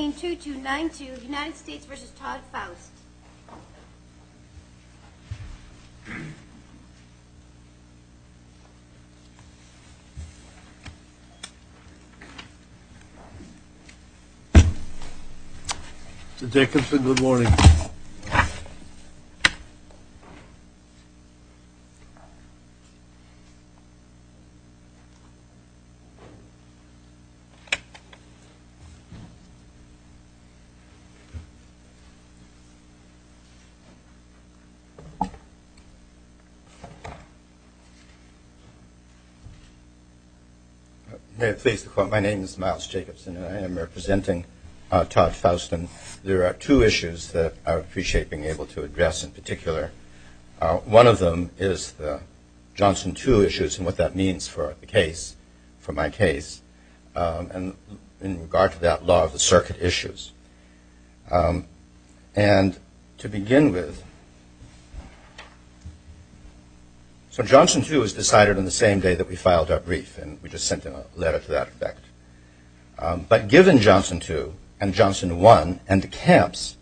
182292 United States v. Todd Faust Mr. Jacobson, good morning My name is Miles Jacobson and I am representing Todd Faust. There are two issues that I appreciate being able to address in particular. One of them is the Johnson 2 issues and what that circuit issues. And to begin with, so Johnson 2 was decided on the same day that we filed our brief and we just sent a letter to that effect. But given Johnson 2 and Johnson 1 and the camps,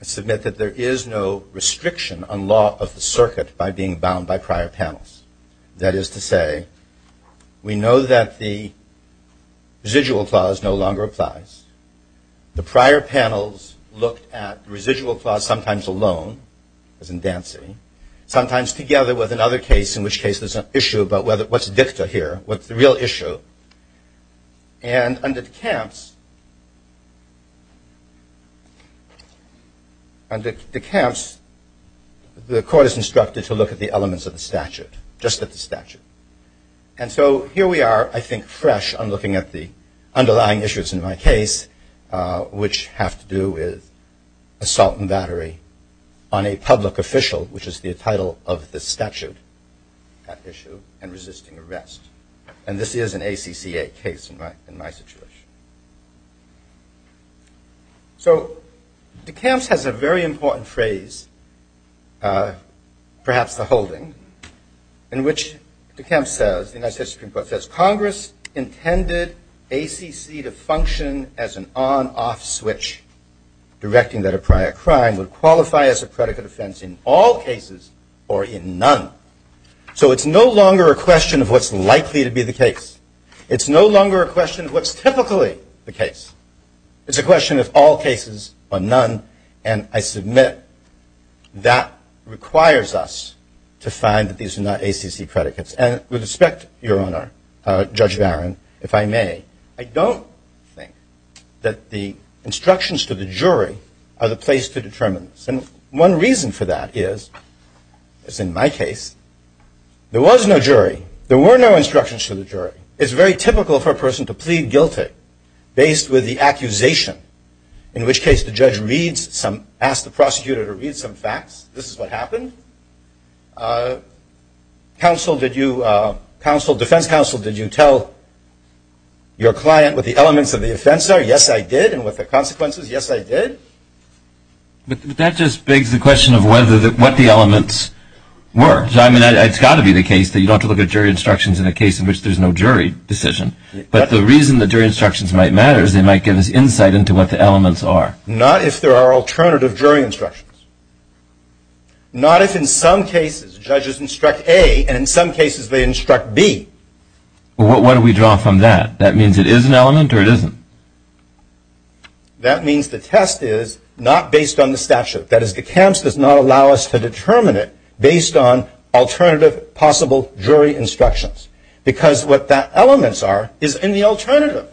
I submit that there is no restriction on law of the circuit by being bound by prior panels. That is to say, we know that the residual clause no longer applies. The prior panels look at residual clause sometimes alone, as in Dancy, sometimes together with another case in which case there's an issue about what's dicta here, what's the real issue. And under the camps, the court is instructed to look at the elements of the statute, just at the statute. And so here we are, I think, fresh on looking at the underlying issues in my case, which have to do with assault and battery on a public official, which is the title of the statute, that issue, and resisting arrest. And this is an ACCA case in my situation. So the camps has a very important phrase, perhaps the holding, in which the camps says, the United States Supreme Court says, Congress intended ACC to function as an on-off switch, directing that a prior crime would qualify as a predicate offense in all cases or in none. So it's no longer a question of what's likely to be the case. It's no longer a question of what's typically the case. It's a question of all cases or none. And I submit that requires us to find that these are not ACC predicates. And with respect, Your Honor, Judge Barron, if I may, I don't think that the instructions to the jury are the place to determine this. And one reason for that is, as in my case, there was no jury. There were no instructions to the jury. It's very typical for a person to plead guilty based with the accusation, in which case the judge reads some, asks the prosecutor to read some facts. This is what happened. Counsel, defense counsel, did you tell your client what the elements of the offense are? Yes, I did. And what the consequences? Yes, I did. But that just begs the question of what the elements were. I mean, it's got to be the case that you don't have to look at jury instructions in a case in which there's no jury decision. But the reason that jury instructions might matter is they might give us insight into what the elements are. Not if there are alternative jury instructions. Not if in some cases judges instruct A, and in some cases they instruct B. Well, what do we draw from that? That means it is an element or it isn't? That means the test is not based on the statute. That is, the camps does not allow us to determine it based on alternative possible jury instructions. Because what the elements are is in the alternative.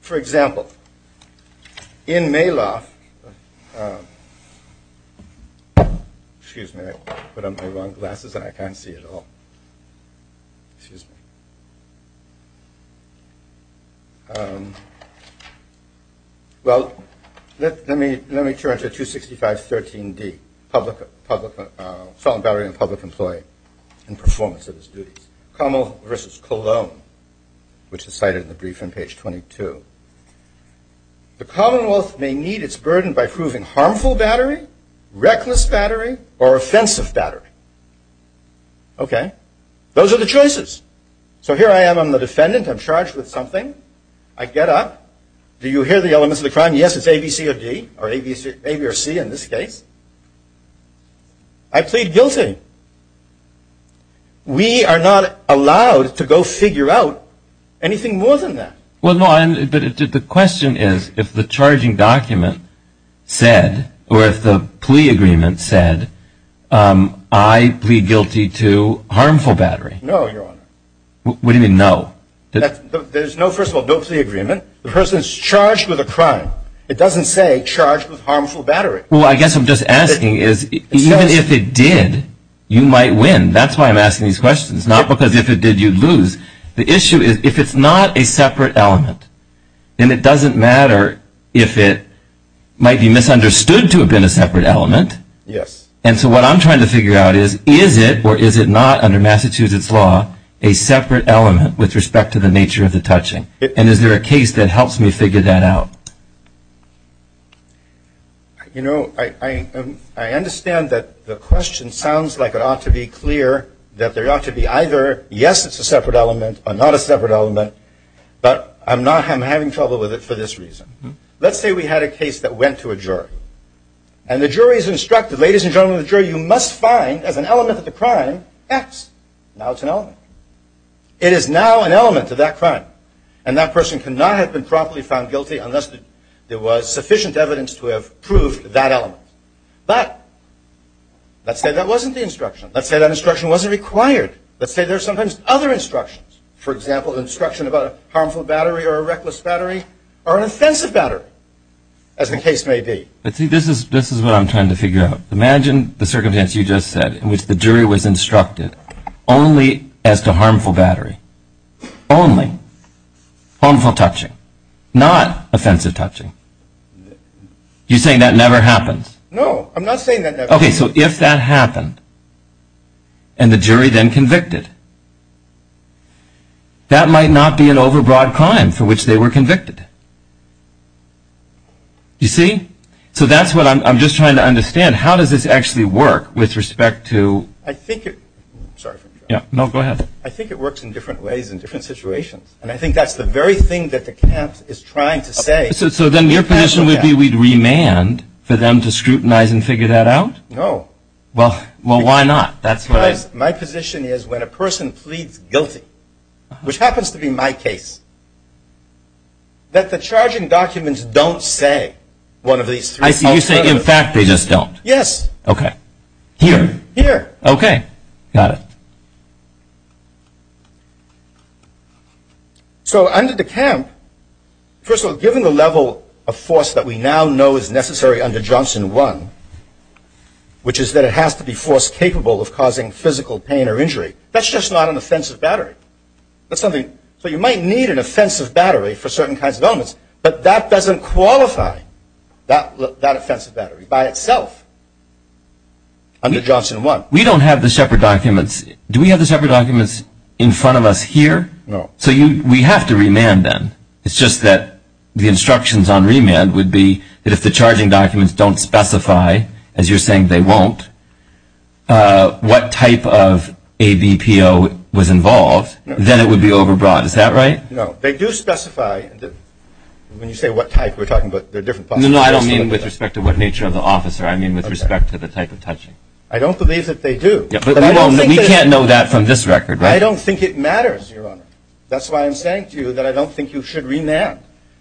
For example, in Maloff, excuse me, I put on my wrong glasses and I can't see at all. Well, let me turn to 265.13d, public, felon battery and public employee and performance of his duties. Commonwealth versus Cologne, which is cited in the brief on page 22. The Commonwealth may need its burden by proving harmful battery, reckless battery, or offensive battery. Okay. Those are the choices. So here I am, I'm the defendant, I'm charged with something. I get up. Do you hear the elements of the crime? Yes, it's A, B, C, or D. Or A, B, or C in this case. I plead guilty. We are not allowed to go figure out anything more than that. Well, no, but the question is if the charging document said, or if the plea agreement said, I plead guilty to harmful battery. No, Your Honor. What do you mean no? There's no, first of all, no plea agreement. The person is charged with a crime. It doesn't say charged with harmful battery. Well, I guess I'm just asking is even if it did, you might win. That's why I'm asking these questions, not because if it did, you'd lose. The issue is if it's not a separate element, then it doesn't matter if it might be misunderstood to have been a separate element. And so what I'm trying to figure out is, is it or is it not under Massachusetts law a separate element with respect to the nature of the touching? And is there a case that helps me figure that out? You know, I understand that the question sounds like it ought to be clear that there ought to be either, yes, it's a separate element or not a separate element, but I'm not, I'm having trouble with it for this reason. Let's say we had a case that went to a jury. And the jury's instructed, ladies and gentlemen of the jury, you must find as an element of the crime X. Now it's an element. It is now an element of that crime. And that person could not have been properly found guilty unless there was sufficient evidence to have proved that element. But let's say that wasn't the instruction. Let's say that instruction wasn't required. Let's say there's sometimes other instructions. For example, an instruction about a harmful battery or a reckless battery or an offensive battery, as the case may be. But see, this is what I'm trying to figure out. Imagine the circumstance you just said in which the jury was instructed only as to harmful battery. Only. Harmful touching. Not offensive touching. You're saying that never happens? No, I'm not saying that never happens. Okay, so if that happened and the jury then convicted, that might not be an overbroad crime for which they were convicted. You see? So that's what I'm just trying to understand. How does this actually work with respect to? I think it, sorry for interrupting. No, go ahead. I think it works in different ways in different situations. And I think that's the very thing that the camp is trying to say. So then your position would be we'd remand for them to scrutinize and figure that out? No. Well, why not? That's what I... My position is when a person pleads guilty, which happens to be my case, that the charging documents don't say one of these three. I see. You say, in fact, they just don't. Yes. Okay. Here. Here. Okay. Got it. So, under the camp, first of all, given the level of force that we now know is necessary under Johnson 1, which is that it has to be force capable of causing physical pain or injury, that's just not an offensive battery. That's something, so you might need an offensive battery for certain kinds of elements, but that doesn't qualify that offensive battery by itself under Johnson 1. We don't have the Shepard documents. Do we have the Shepard documents in front of us here? No. So we have to remand them. It's just that the instructions on remand would be that if the charging documents don't specify, as you're saying they won't, what type of ABPO was involved, then it would be overbrought. Is that right? No. They do specify. When you say what type, we're talking about the different possibilities. No, no. I don't mean with respect to what nature of the officer. I mean with respect to the type of touching. I don't believe that they do. But we can't know that from this record, right? I don't think it matters, Your Honor. That's why I'm saying to you that I don't think you should remand.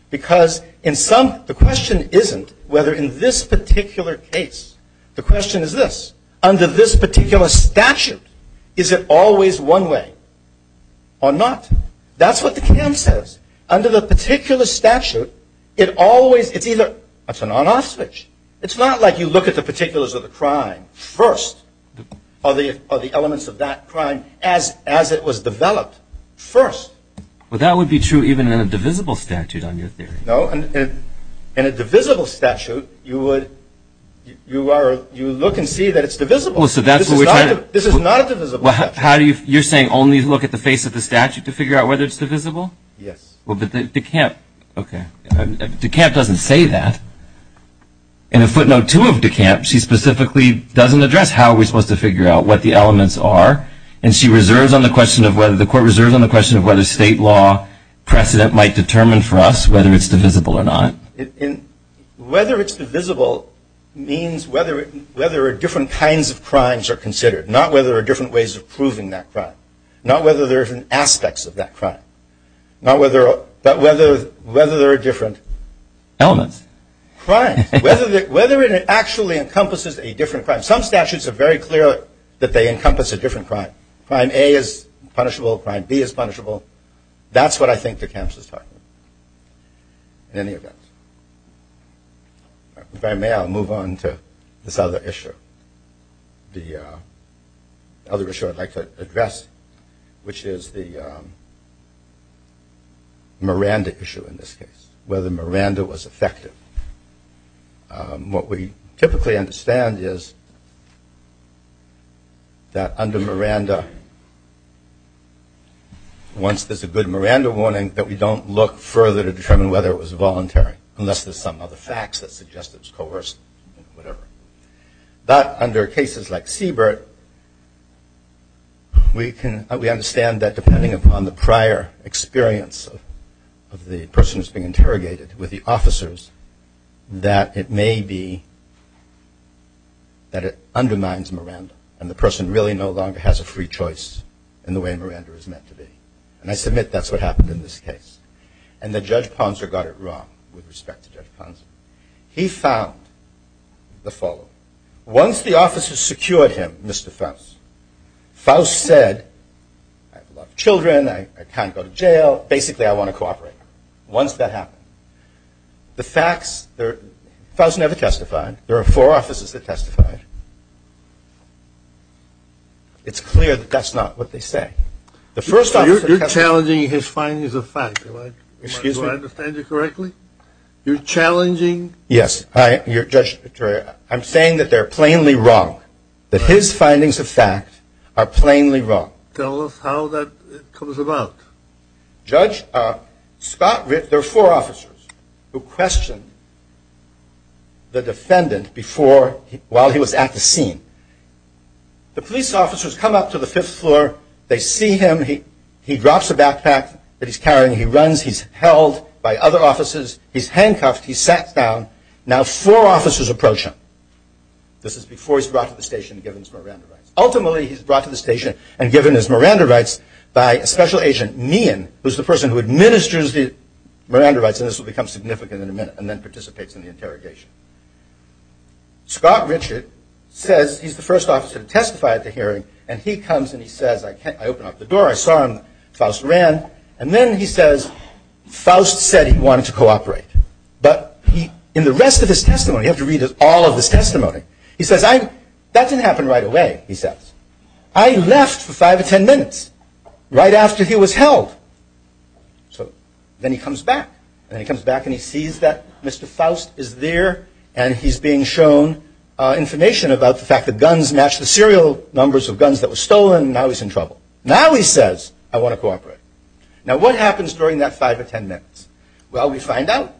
Because in some, the question isn't whether in this particular case. The question is this. Under this particular statute, is it always one way or not? That's what the camp says. Under the particular statute, it always, it's either, that's a non-off switch. It's not like you look at the particulars of the crime first, or the elements of that crime as it was developed first. Well, that would be true even in a divisible statute on your theory. No. In a divisible statute, you would, you are, you look and see that it's divisible. So that's what we're trying to. This is not a divisible statute. You're saying only look at the face of the statute to figure out whether it's divisible? Yes. Well, but the camp, okay. The camp doesn't say that. In a footnote two of the camp, she specifically doesn't address how are we supposed to figure out what the elements are. And she reserves on the question of whether, the court reserves on the question of whether state law precedent might determine for us whether it's divisible or not. Whether it's divisible means whether, whether different kinds of crimes are considered. Not whether there are different ways of proving that crime. Not whether there are different aspects of that crime. Not whether, but whether, whether there are different elements, crimes. Whether it actually encompasses a different crime. Some statutes are very clear that they encompass a different crime. Crime A is punishable. Crime B is punishable. That's what I think the camp is talking about. In any event, if I may, I'll move on to this other issue. The other issue I'd like to address, which is the Miranda issue in this case. Whether Miranda was effective. What we typically understand is that under Miranda, once there's a good Miranda warning, that we don't look further to determine whether it was voluntary. Unless there's some other facts that suggest it was coerced. But under cases like Siebert, we understand that depending upon the prior experience of the person who's being interrogated with the officers, that it may be that it undermines Miranda. And the person really no longer has a free choice in the way Miranda is meant to be. And I submit that's what happened in this case. And that Judge Ponser got it wrong with respect to Judge Ponser. He found the following. Once the officers secured him, Mr. Faust, Faust said, I have a lot of children, I can't go to jail, basically I want to cooperate. Once that happened, the facts, Faust never testified. There are four officers that testified. It's clear that that's not what they say. You're challenging his findings of fact. Do I understand you correctly? You're challenging... I'm saying that they're plainly wrong. That his findings of fact are plainly wrong. Tell us how that comes about. There are four officers who questioned the defendant while he was at the scene. The police officers come up to the fifth floor, they see him, he drops a backpack that he's carrying, he runs, he's held by other officers, he's handcuffed, he's sat down. Now four officers approach him. This is before he's brought to the station and given his Miranda rights. Ultimately, he's brought to the station and given his Miranda rights by a special agent, Meehan, who's the person who administers the Miranda rights, and this will become significant in a minute, and then participates in the interrogation. Scott Richard says he's the first officer to testify at the hearing, and he comes and he says, I open up the door, I saw him, Faust ran, and then he says, Faust said he wanted to cooperate, but in the rest of his testimony, you have to read all of his testimony, he says, that didn't happen right away, he says. I left for five or ten minutes, right after he was held. So then he comes back, and he comes back and he sees that Mr. Faust is there and he's being shown information about the fact that guns matched the serial numbers of guns that were stolen, and now he's in trouble. Now he says, I want to cooperate. Now what happens during that five or ten minutes? Well, we find out.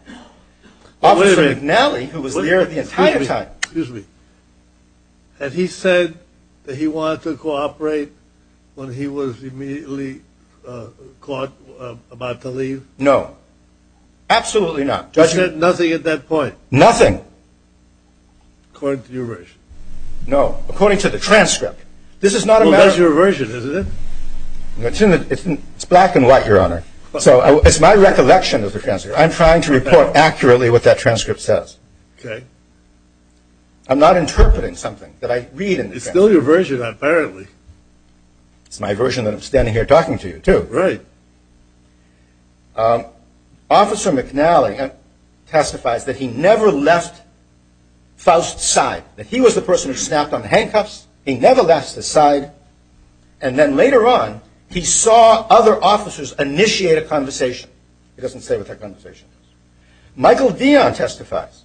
Officer McNally, who was there the entire time. Excuse me. Excuse me. Had he said that he wanted to cooperate when he was immediately caught about to leave? No. Absolutely not. He said nothing at that point? Nothing. According to your version? No. According to the transcript. This is not a matter of... Well, that's your version, isn't it? It's black and white, Your Honor. So it's my recollection of the transcript. I'm trying to report accurately what that transcript says. Okay. I'm not interpreting something that I read in the transcript. It's still your version, apparently. It's my version that I'm standing here talking to you, too. Right. Officer McNally testifies that he never left Faust's side. That he was the person who snapped on the handcuffs. He never left his side. And then later on, he saw other officers initiate a conversation. It doesn't say what that conversation was. Michael Dion testifies.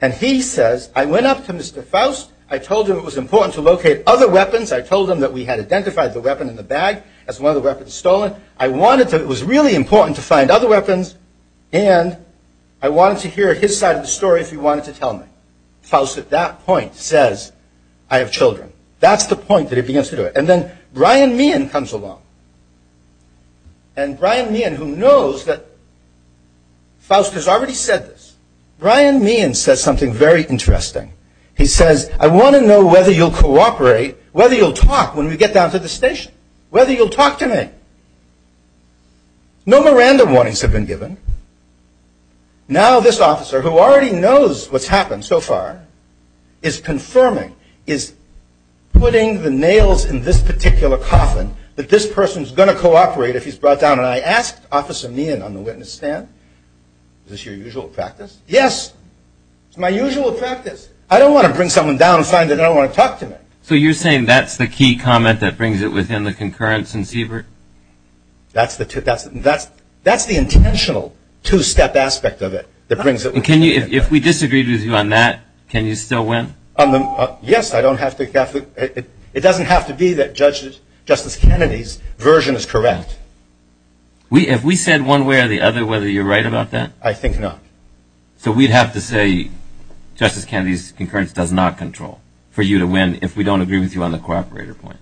And he says, I went up to Mr. Faust. I told him it was important to locate other weapons. I told him that we had identified the weapon in the bag as one of the weapons stolen. I wanted to... It was really important to find other weapons. And I wanted to hear his side of the story if he wanted to tell me. Faust, at that point, says, I have children. That's the point that he begins to do it. And then Brian Meehan comes along. And Brian Meehan, who knows that... Faust has already said this. Brian Meehan says something very interesting. He says, I want to know whether you'll cooperate, whether you'll talk when we get down to the station. Whether you'll talk to me. No more random warnings have been given. Now this officer, who already knows what's happened so far, is confirming, is putting the nails in this particular coffin that this person's going to cooperate if he's brought down. And I asked Officer Meehan on the witness stand, is this your usual practice? Yes. It's my usual practice. I don't want to bring someone down and find that they don't want to talk to me. So you're saying that's the key comment that brings it within the concurrence in Siebert? That's the intentional two-step aspect of it. If we disagreed with you on that, can you still win? Yes. It doesn't have to be that Justice Kennedy's version is correct. If we said one way or the other whether you're right about that? I think not. So we'd have to say Justice Kennedy's concurrence does not control for you to win if we don't agree with you on the cooperator point,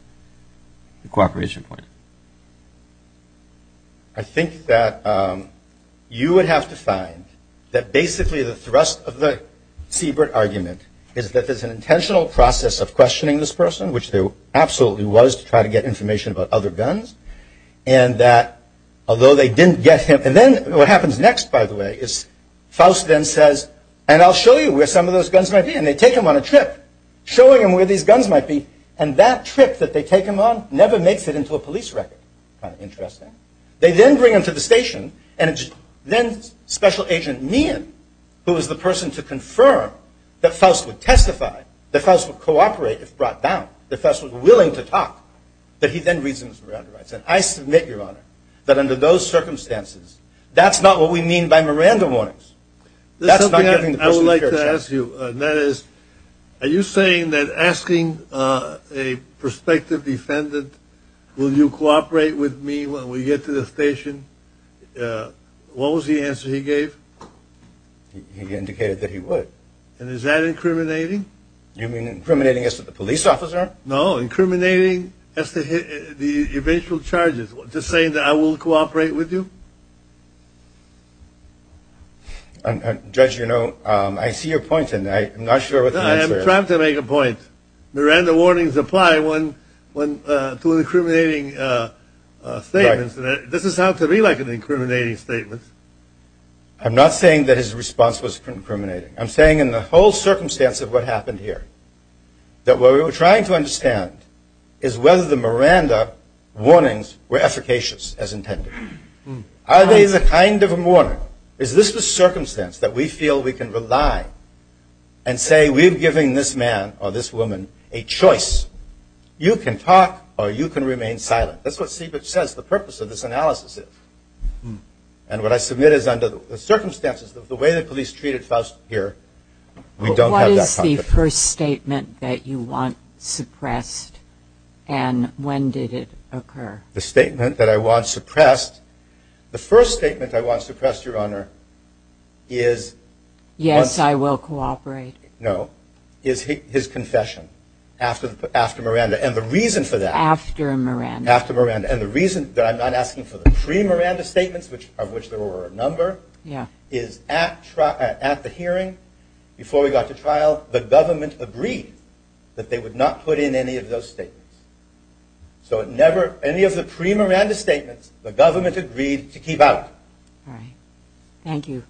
the cooperation point. I think that you would have to find that basically the thrust of the Siebert argument is that there's an intentional process of questioning this person, which there absolutely was to try to get information about other guns, and that although they didn't get him. And then what happens next, by the way, is Faust then says, and I'll show you where some of those guns might be. And they take him on a trip showing him where these guns might be. And that trip that they take him on never makes it into a police record. Kind of interesting. They then bring him to the station. And it's then Special Agent Meehan, who is the person to confirm that Faust would testify, that Faust would cooperate if brought down, that Faust was willing to talk, that he then reasons around the rights. And I submit, Your Honor, that under those circumstances, that's not what we mean by Miranda warnings. That's not giving the person a fair chance. I would like to ask you, and that is, are you saying that asking a prospective defendant, will you cooperate with me when we get to the station, what was the answer he gave? He indicated that he would. And is that incriminating? You mean incriminating as to the police officer? No, incriminating as to the eventual charges. Just saying that I will cooperate with you? Judge, you know, I see your point in that. I'm not sure what the answer is. I am trying to make a point. Miranda warnings apply to an incriminating statement. This is how it could be like an incriminating statement. I'm not saying that his response was incriminating. I'm saying in the whole circumstance of what happened here, that what we were trying to understand is whether the Miranda warnings were efficacious as intended. Are they the kind of a warning? Is this the circumstance that we feel we can rely and say we're giving this man or this woman a choice? You can talk or you can remain silent. That's what Siebert says the purpose of this analysis is. And what I submit is under the circumstances of the way the police treated Faust here, we don't have that conversation. What is the first statement that you want suppressed, and when did it occur? The statement that I want suppressed? The first statement I want suppressed, Your Honor, is... Yes, I will cooperate. No, is his confession after Miranda. And the reason for that... After Miranda. After Miranda. And the reason that I'm not asking for the pre-Miranda statements, of which there were a number, is at the hearing before we got to trial, the government agreed that they would not put in any of those statements. So any of the pre-Miranda statements, the government agreed to keep out. All right. Thank you.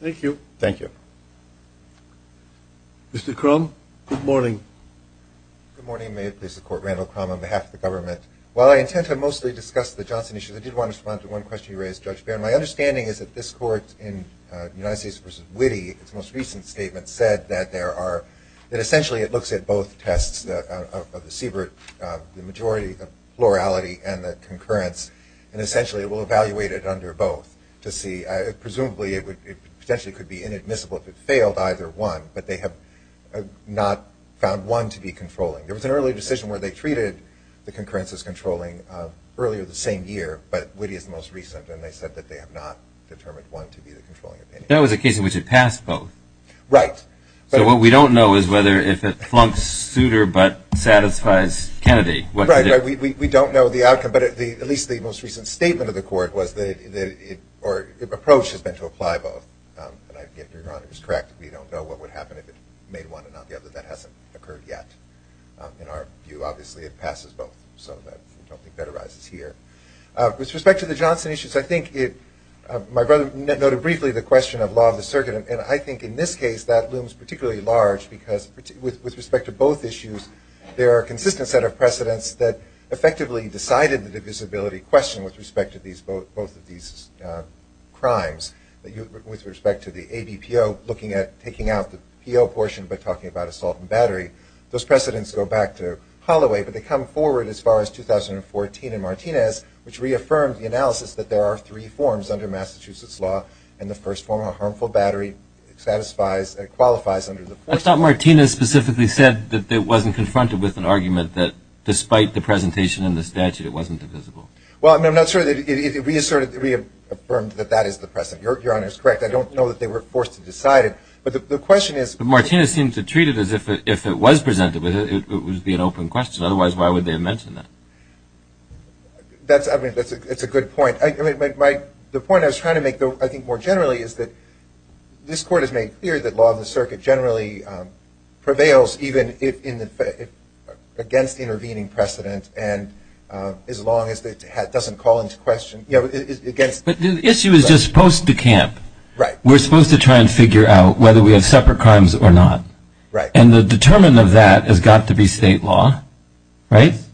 Thank you. Mr. Crum, good morning. Good morning. May it please the Court, Randall Crum on behalf of the government. While I intend to mostly discuss the Johnson issue, I did want to respond to one question you raised, Judge Baird. My understanding is that this Court in United States v. Witte, its most recent statement, said that essentially it looks at both tests of the Siebert majority, the plurality and the concurrence, and essentially it will evaluate it under both to see. Presumably it potentially could be inadmissible if it failed either one, but they have not found one to be controlling. There was an early decision where they treated the concurrence as controlling earlier the same year, but Witte is the most recent, and they said that they have not determined one to be the controlling opinion. That was a case in which it passed both. Right. So what we don't know is whether if it flunks Souter but satisfies Kennedy. Right, right. We don't know the outcome, but at least the most recent statement of the Court was that it, or the approach has been to apply both. Your Honor is correct. We don't know what would happen if it made one and not the other. That hasn't occurred yet. In our view, obviously, it passes both. So I don't think that arises here. With respect to the Johnson issues, I think my brother noted briefly the question of law of the circuit, and I think in this case that looms particularly large because with respect to both issues, there are a consistent set of precedents that effectively decided the divisibility question with respect to both of these crimes. With respect to the ABPO looking at taking out the PO portion by talking about assault and battery, those precedents go back to Holloway, but they come forward as far as 2014 in Martinez, which reaffirmed the analysis that there are three forms under Massachusetts law, and the first form, a harmful battery, satisfies and qualifies under the law. I thought Martinez specifically said that it wasn't confronted with an argument that, despite the presentation in the statute, it wasn't divisible. Well, I'm not sure that it reaffirmed that that is the precedent. Your Honor is correct. I don't know that they were forced to decide it. But the question is – But Martinez seemed to treat it as if it was presented, it would be an open question. Otherwise, why would they have mentioned that? That's a good point. The point I was trying to make, though, I think more generally, is that this Court has made clear that law of the circuit generally prevails even against intervening precedent as long as it doesn't call into question – But the issue is just post-decamp. Right. We're supposed to try and figure out whether we have separate crimes or not. Right. And the determinant of that has got to be state law, right? Yes.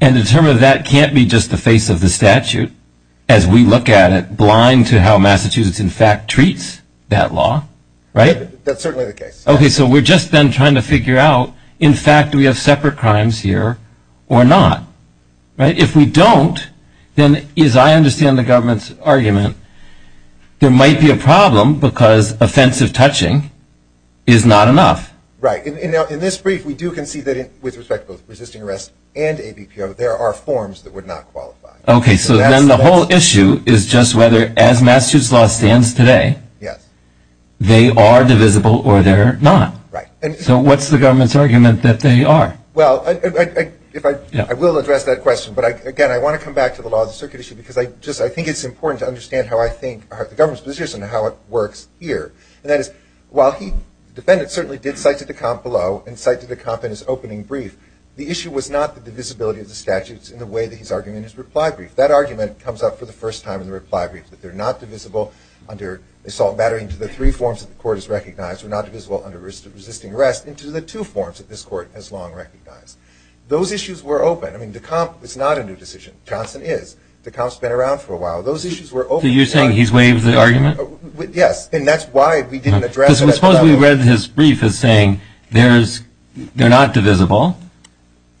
And the determinant of that can't be just the face of the statute, as we look at it blind to how Massachusetts, in fact, treats that law, right? That's certainly the case. Okay. So we've just been trying to figure out, in fact, do we have separate crimes here or not, right? If we don't, then, as I understand the government's argument, there might be a problem because offensive touching is not enough. Right. In this brief, we do concede that with respect to both resisting arrest and ABPO, there are forms that would not qualify. Okay. So then the whole issue is just whether, as Massachusetts law stands today, they are divisible or they're not. Right. So what's the government's argument that they are? Well, I will address that question. But, again, I want to come back to the law of the circuit issue because I think it's important to understand how I think the government's position and how it works here. And that is, while the defendant certainly did cite to decamp below and cite to decamp in his opening brief, the issue was not the divisibility of the statutes in the way that he's arguing in his reply brief. That argument comes up for the first time in the reply brief, that they're not divisible under assault battery into the three forms that the court has recognized. They're not divisible under resisting arrest into the two forms that this court has long recognized. Those issues were open. I mean, decamp is not a new decision. Johnson is. Decamp's been around for a while. Those issues were open. So you're saying he's waived the argument? Yes, and that's why we didn't address it. Because suppose we read his brief as saying they're not divisible.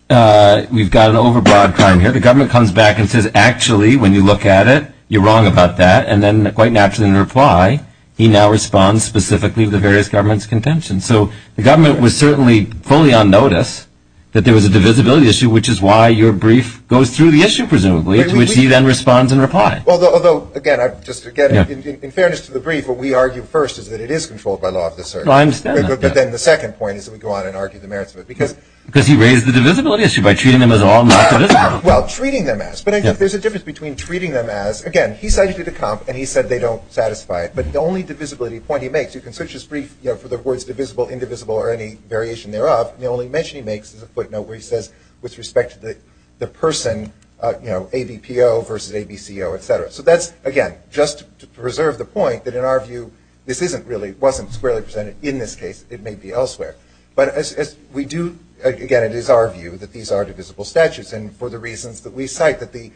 We've got an overbroad crime here. The government comes back and says, actually, when you look at it, you're wrong about that. And then quite naturally in reply, he now responds specifically to the various government's contention. So the government was certainly fully on notice that there was a divisibility issue, which is why your brief goes through the issue, presumably, to which he then responds in reply. Although, again, in fairness to the brief, what we argue first is that it is controlled by law of the circuit. I understand that. But then the second point is that we go on and argue the merits of it. Because he raised the divisibility issue by treating them as all not divisible. Well, treating them as. But there's a difference between treating them as. Again, he cited the comp, and he said they don't satisfy it. But the only divisibility point he makes, you can search his brief for the words divisible, indivisible, or any variation thereof, the only mention he makes is a footnote where he says, with respect to the person, you know, ABPO versus ABCO, et cetera. So that's, again, just to preserve the point that in our view, this isn't really, wasn't squarely presented. In this case, it may be elsewhere. But as we do, again, it is our view that these are divisible statutes. And for the reasons that we cite, that the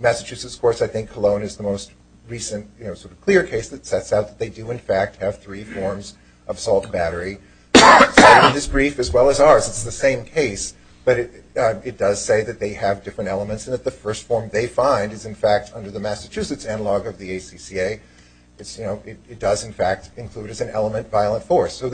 Massachusetts courts, I think Cologne is the most recent, you know, sort of clear case that sets out that they do, in fact, have three forms of assault and battery. It's cited in this brief as well as ours. It's the same case. But it does say that they have different elements and that the first form they find is, in fact, under the Massachusetts analog of the ACCA. It's, you know, it does, in fact, include as an element violent force. I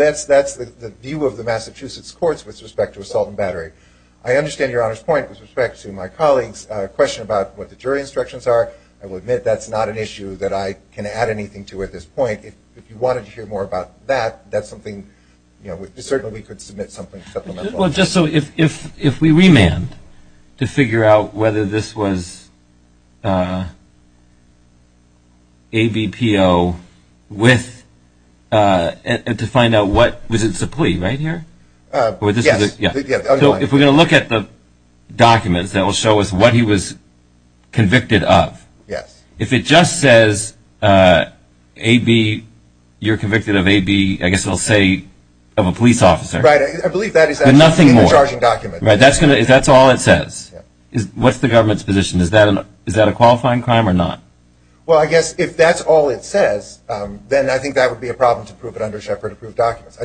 understand Your Honor's point with respect to my colleague's question about what the jury instructions are. I will admit that's not an issue that I can add anything to at this point. If you wanted to hear more about that, that's something, you know, we certainly could submit something supplemental. Well, just so, if we remand to figure out whether this was ABPO with, to find out what, was it a plea right here? Yes. If we're going to look at the documents, that will show us what he was convicted of. Yes. If it just says AB, you're convicted of AB, I guess it will say of a police officer. Right. I believe that is actually in the charging document. But nothing more. Right. That's all it says. What's the government's position? Is that a qualifying crime or not? Well, I guess if that's all it says, then I think that would be a problem to prove it under Shepard Approved Documents.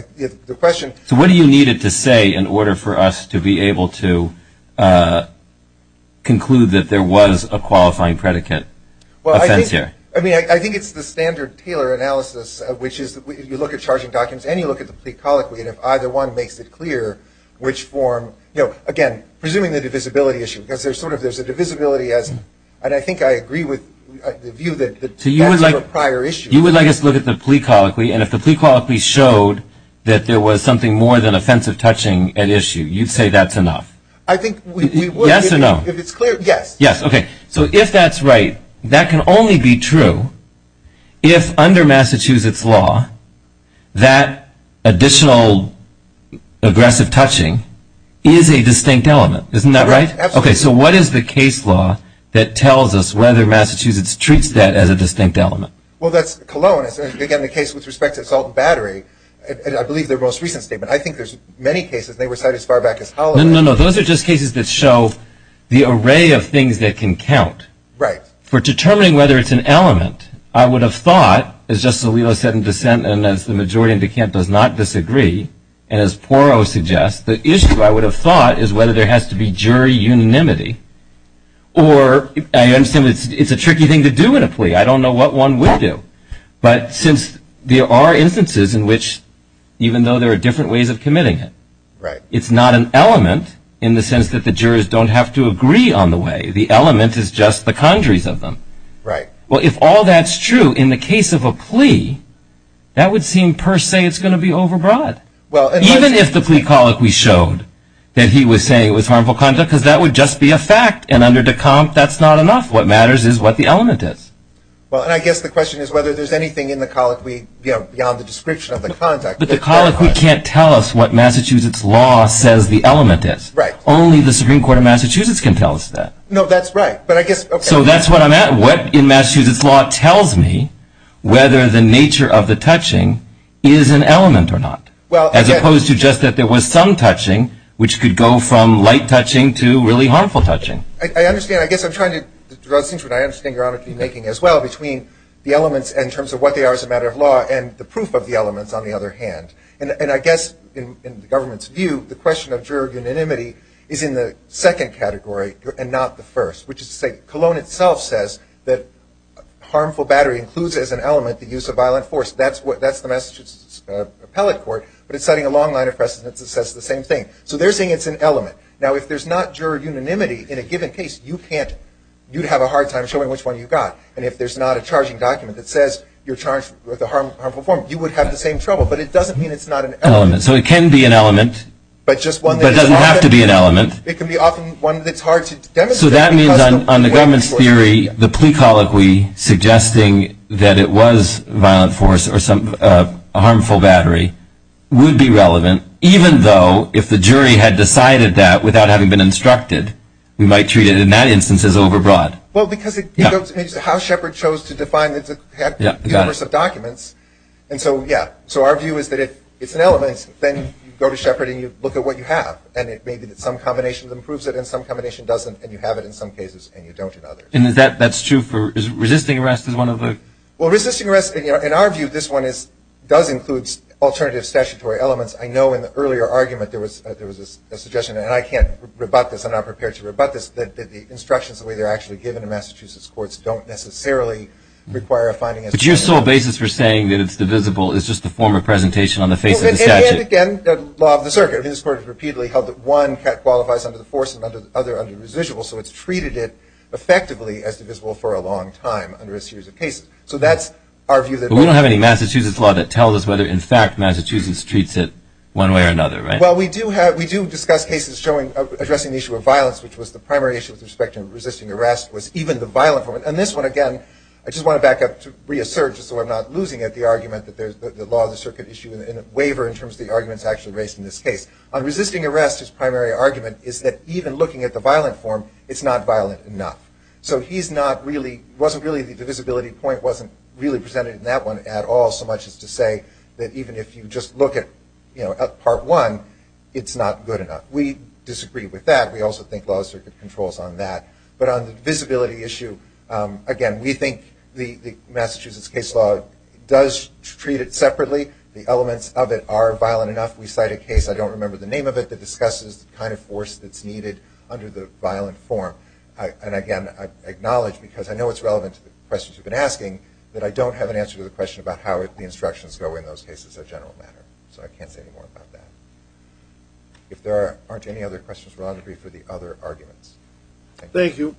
So what do you need it to say in order for us to be able to conclude that there was a qualifying predicate offense here? I mean, I think it's the standard Taylor analysis, which is you look at charging documents and you look at the plea colloquy, and if either one makes it clear which form, you know, again, presuming the divisibility issue, because there's sort of, there's a divisibility as, and I think I agree with the view that that's a prior issue. You would like us to look at the plea colloquy, and if the plea colloquy showed that there was something more than offensive touching at issue, you'd say that's enough? I think we would. Yes or no? If it's clear, yes. Yes. Okay. So if that's right, that can only be true if, under Massachusetts law, that additional aggressive touching is a distinct element. Isn't that right? Absolutely. Okay. So what is the case law that tells us whether Massachusetts treats that as a distinct element? Well, that's Cologne. It's, again, the case with respect to assault and battery, and I believe their most recent statement. I think there's many cases. They were cited as far back as Holland. No, no, no. Those are just cases that show the array of things that can count. Right. For determining whether it's an element, I would have thought, as Justice Alito said in dissent and as the majority in the camp does not disagree, and as Poirot suggests, the issue, I would have thought, is whether there has to be jury unanimity, or I understand it's a tricky thing to do in a plea. I don't know what one would do. But since there are instances in which, even though there are different ways of committing it, it's not an element in the sense that the jurors don't have to agree on the way. The element is just the conjuries of them. Right. Well, if all that's true in the case of a plea, that would seem per se it's going to be overbroad. Even if the plea colloquy showed that he was saying it was harmful conduct, because that would just be a fact, and under de Camp, that's not enough. What matters is what the element is. Well, and I guess the question is whether there's anything in the colloquy beyond the description of the conduct. But the colloquy can't tell us what Massachusetts law says the element is. Right. Only the Supreme Court of Massachusetts can tell us that. No, that's right. So that's where I'm at. What in Massachusetts law tells me whether the nature of the touching is an element or not, as opposed to just that there was some touching which could go from light touching to really harmful touching. I understand. I guess I'm trying to draw a distinction, and I understand Your Honor, to be making as well between the elements in terms of what they are as a matter of law and the proof of the elements, on the other hand. And I guess in the government's view, the question of juror unanimity is in the second category and not the first, which is to say Cologne itself says that harmful battery includes as an element the use of violent force. That's the Massachusetts Appellate Court, but it's setting a long line of precedence that says the same thing. So they're saying it's an element. Now, if there's not juror unanimity in a given case, you'd have a hard time showing which one you got. And if there's not a charging document that says you're charged with a harmful form, you would have the same trouble. But it doesn't mean it's not an element. So it can be an element. But it doesn't have to be an element. It can be often one that's hard to demonstrate. So that means on the government's theory, the plea colloquy suggesting that it was violent force or a harmful battery would be relevant, even though if the jury had decided that without having been instructed, we might treat it in that instance as overbroad. Well, because it goes into how Shepard chose to define the universe of documents. And so, yeah, so our view is that it's an element, then you go to Shepard and you look at what you have, and it may be that some combination improves it and some combination doesn't, and you have it in some cases and you don't in others. And is that true for resisting arrest is one of the – Well, resisting arrest, in our view, this one does include alternative statutory elements. I know in the earlier argument there was a suggestion, and I can't rebut this, I'm not prepared to rebut this, that the instructions, the way they're actually given in Massachusetts courts, don't necessarily require a finding – But you're still a basis for saying that it's divisible. It's just a form of presentation on the face of the statute. And, again, the law of the circuit in this court repeatedly held that one qualifies under the force and the other under the residual, so it's treated it effectively as divisible for a long time under a series of cases. So that's our view that – But we don't have any Massachusetts law that tells us whether, in fact, Massachusetts treats it one way or another, right? Well, we do have – we do discuss cases showing – addressing the issue of violence, which was the primary issue with respect to resisting arrest was even the violent form. And this one, again, I just want to back up to reassert just so I'm not losing at the argument that there's the law of the circuit issue in a waiver in terms of the arguments actually raised in this case. On resisting arrest, his primary argument is that even looking at the violent form, it's not violent enough. So he's not really – wasn't really – the divisibility point wasn't really presented in that one at all, so much as to say that even if you just look at part one, it's not good enough. We disagree with that. We also think law of the circuit controls on that. But on the visibility issue, again, we think the Massachusetts case law does treat it separately. The elements of it are violent enough. We cite a case – I don't remember the name of it – that discusses the kind of force that's needed under the violent form. And, again, I acknowledge, because I know it's relevant to the questions you've been asking, that I don't have an answer to the question about how the instructions go in those cases in a general manner. So I can't say any more about that. If there aren't any other questions, we're happy for the other arguments. Thank you.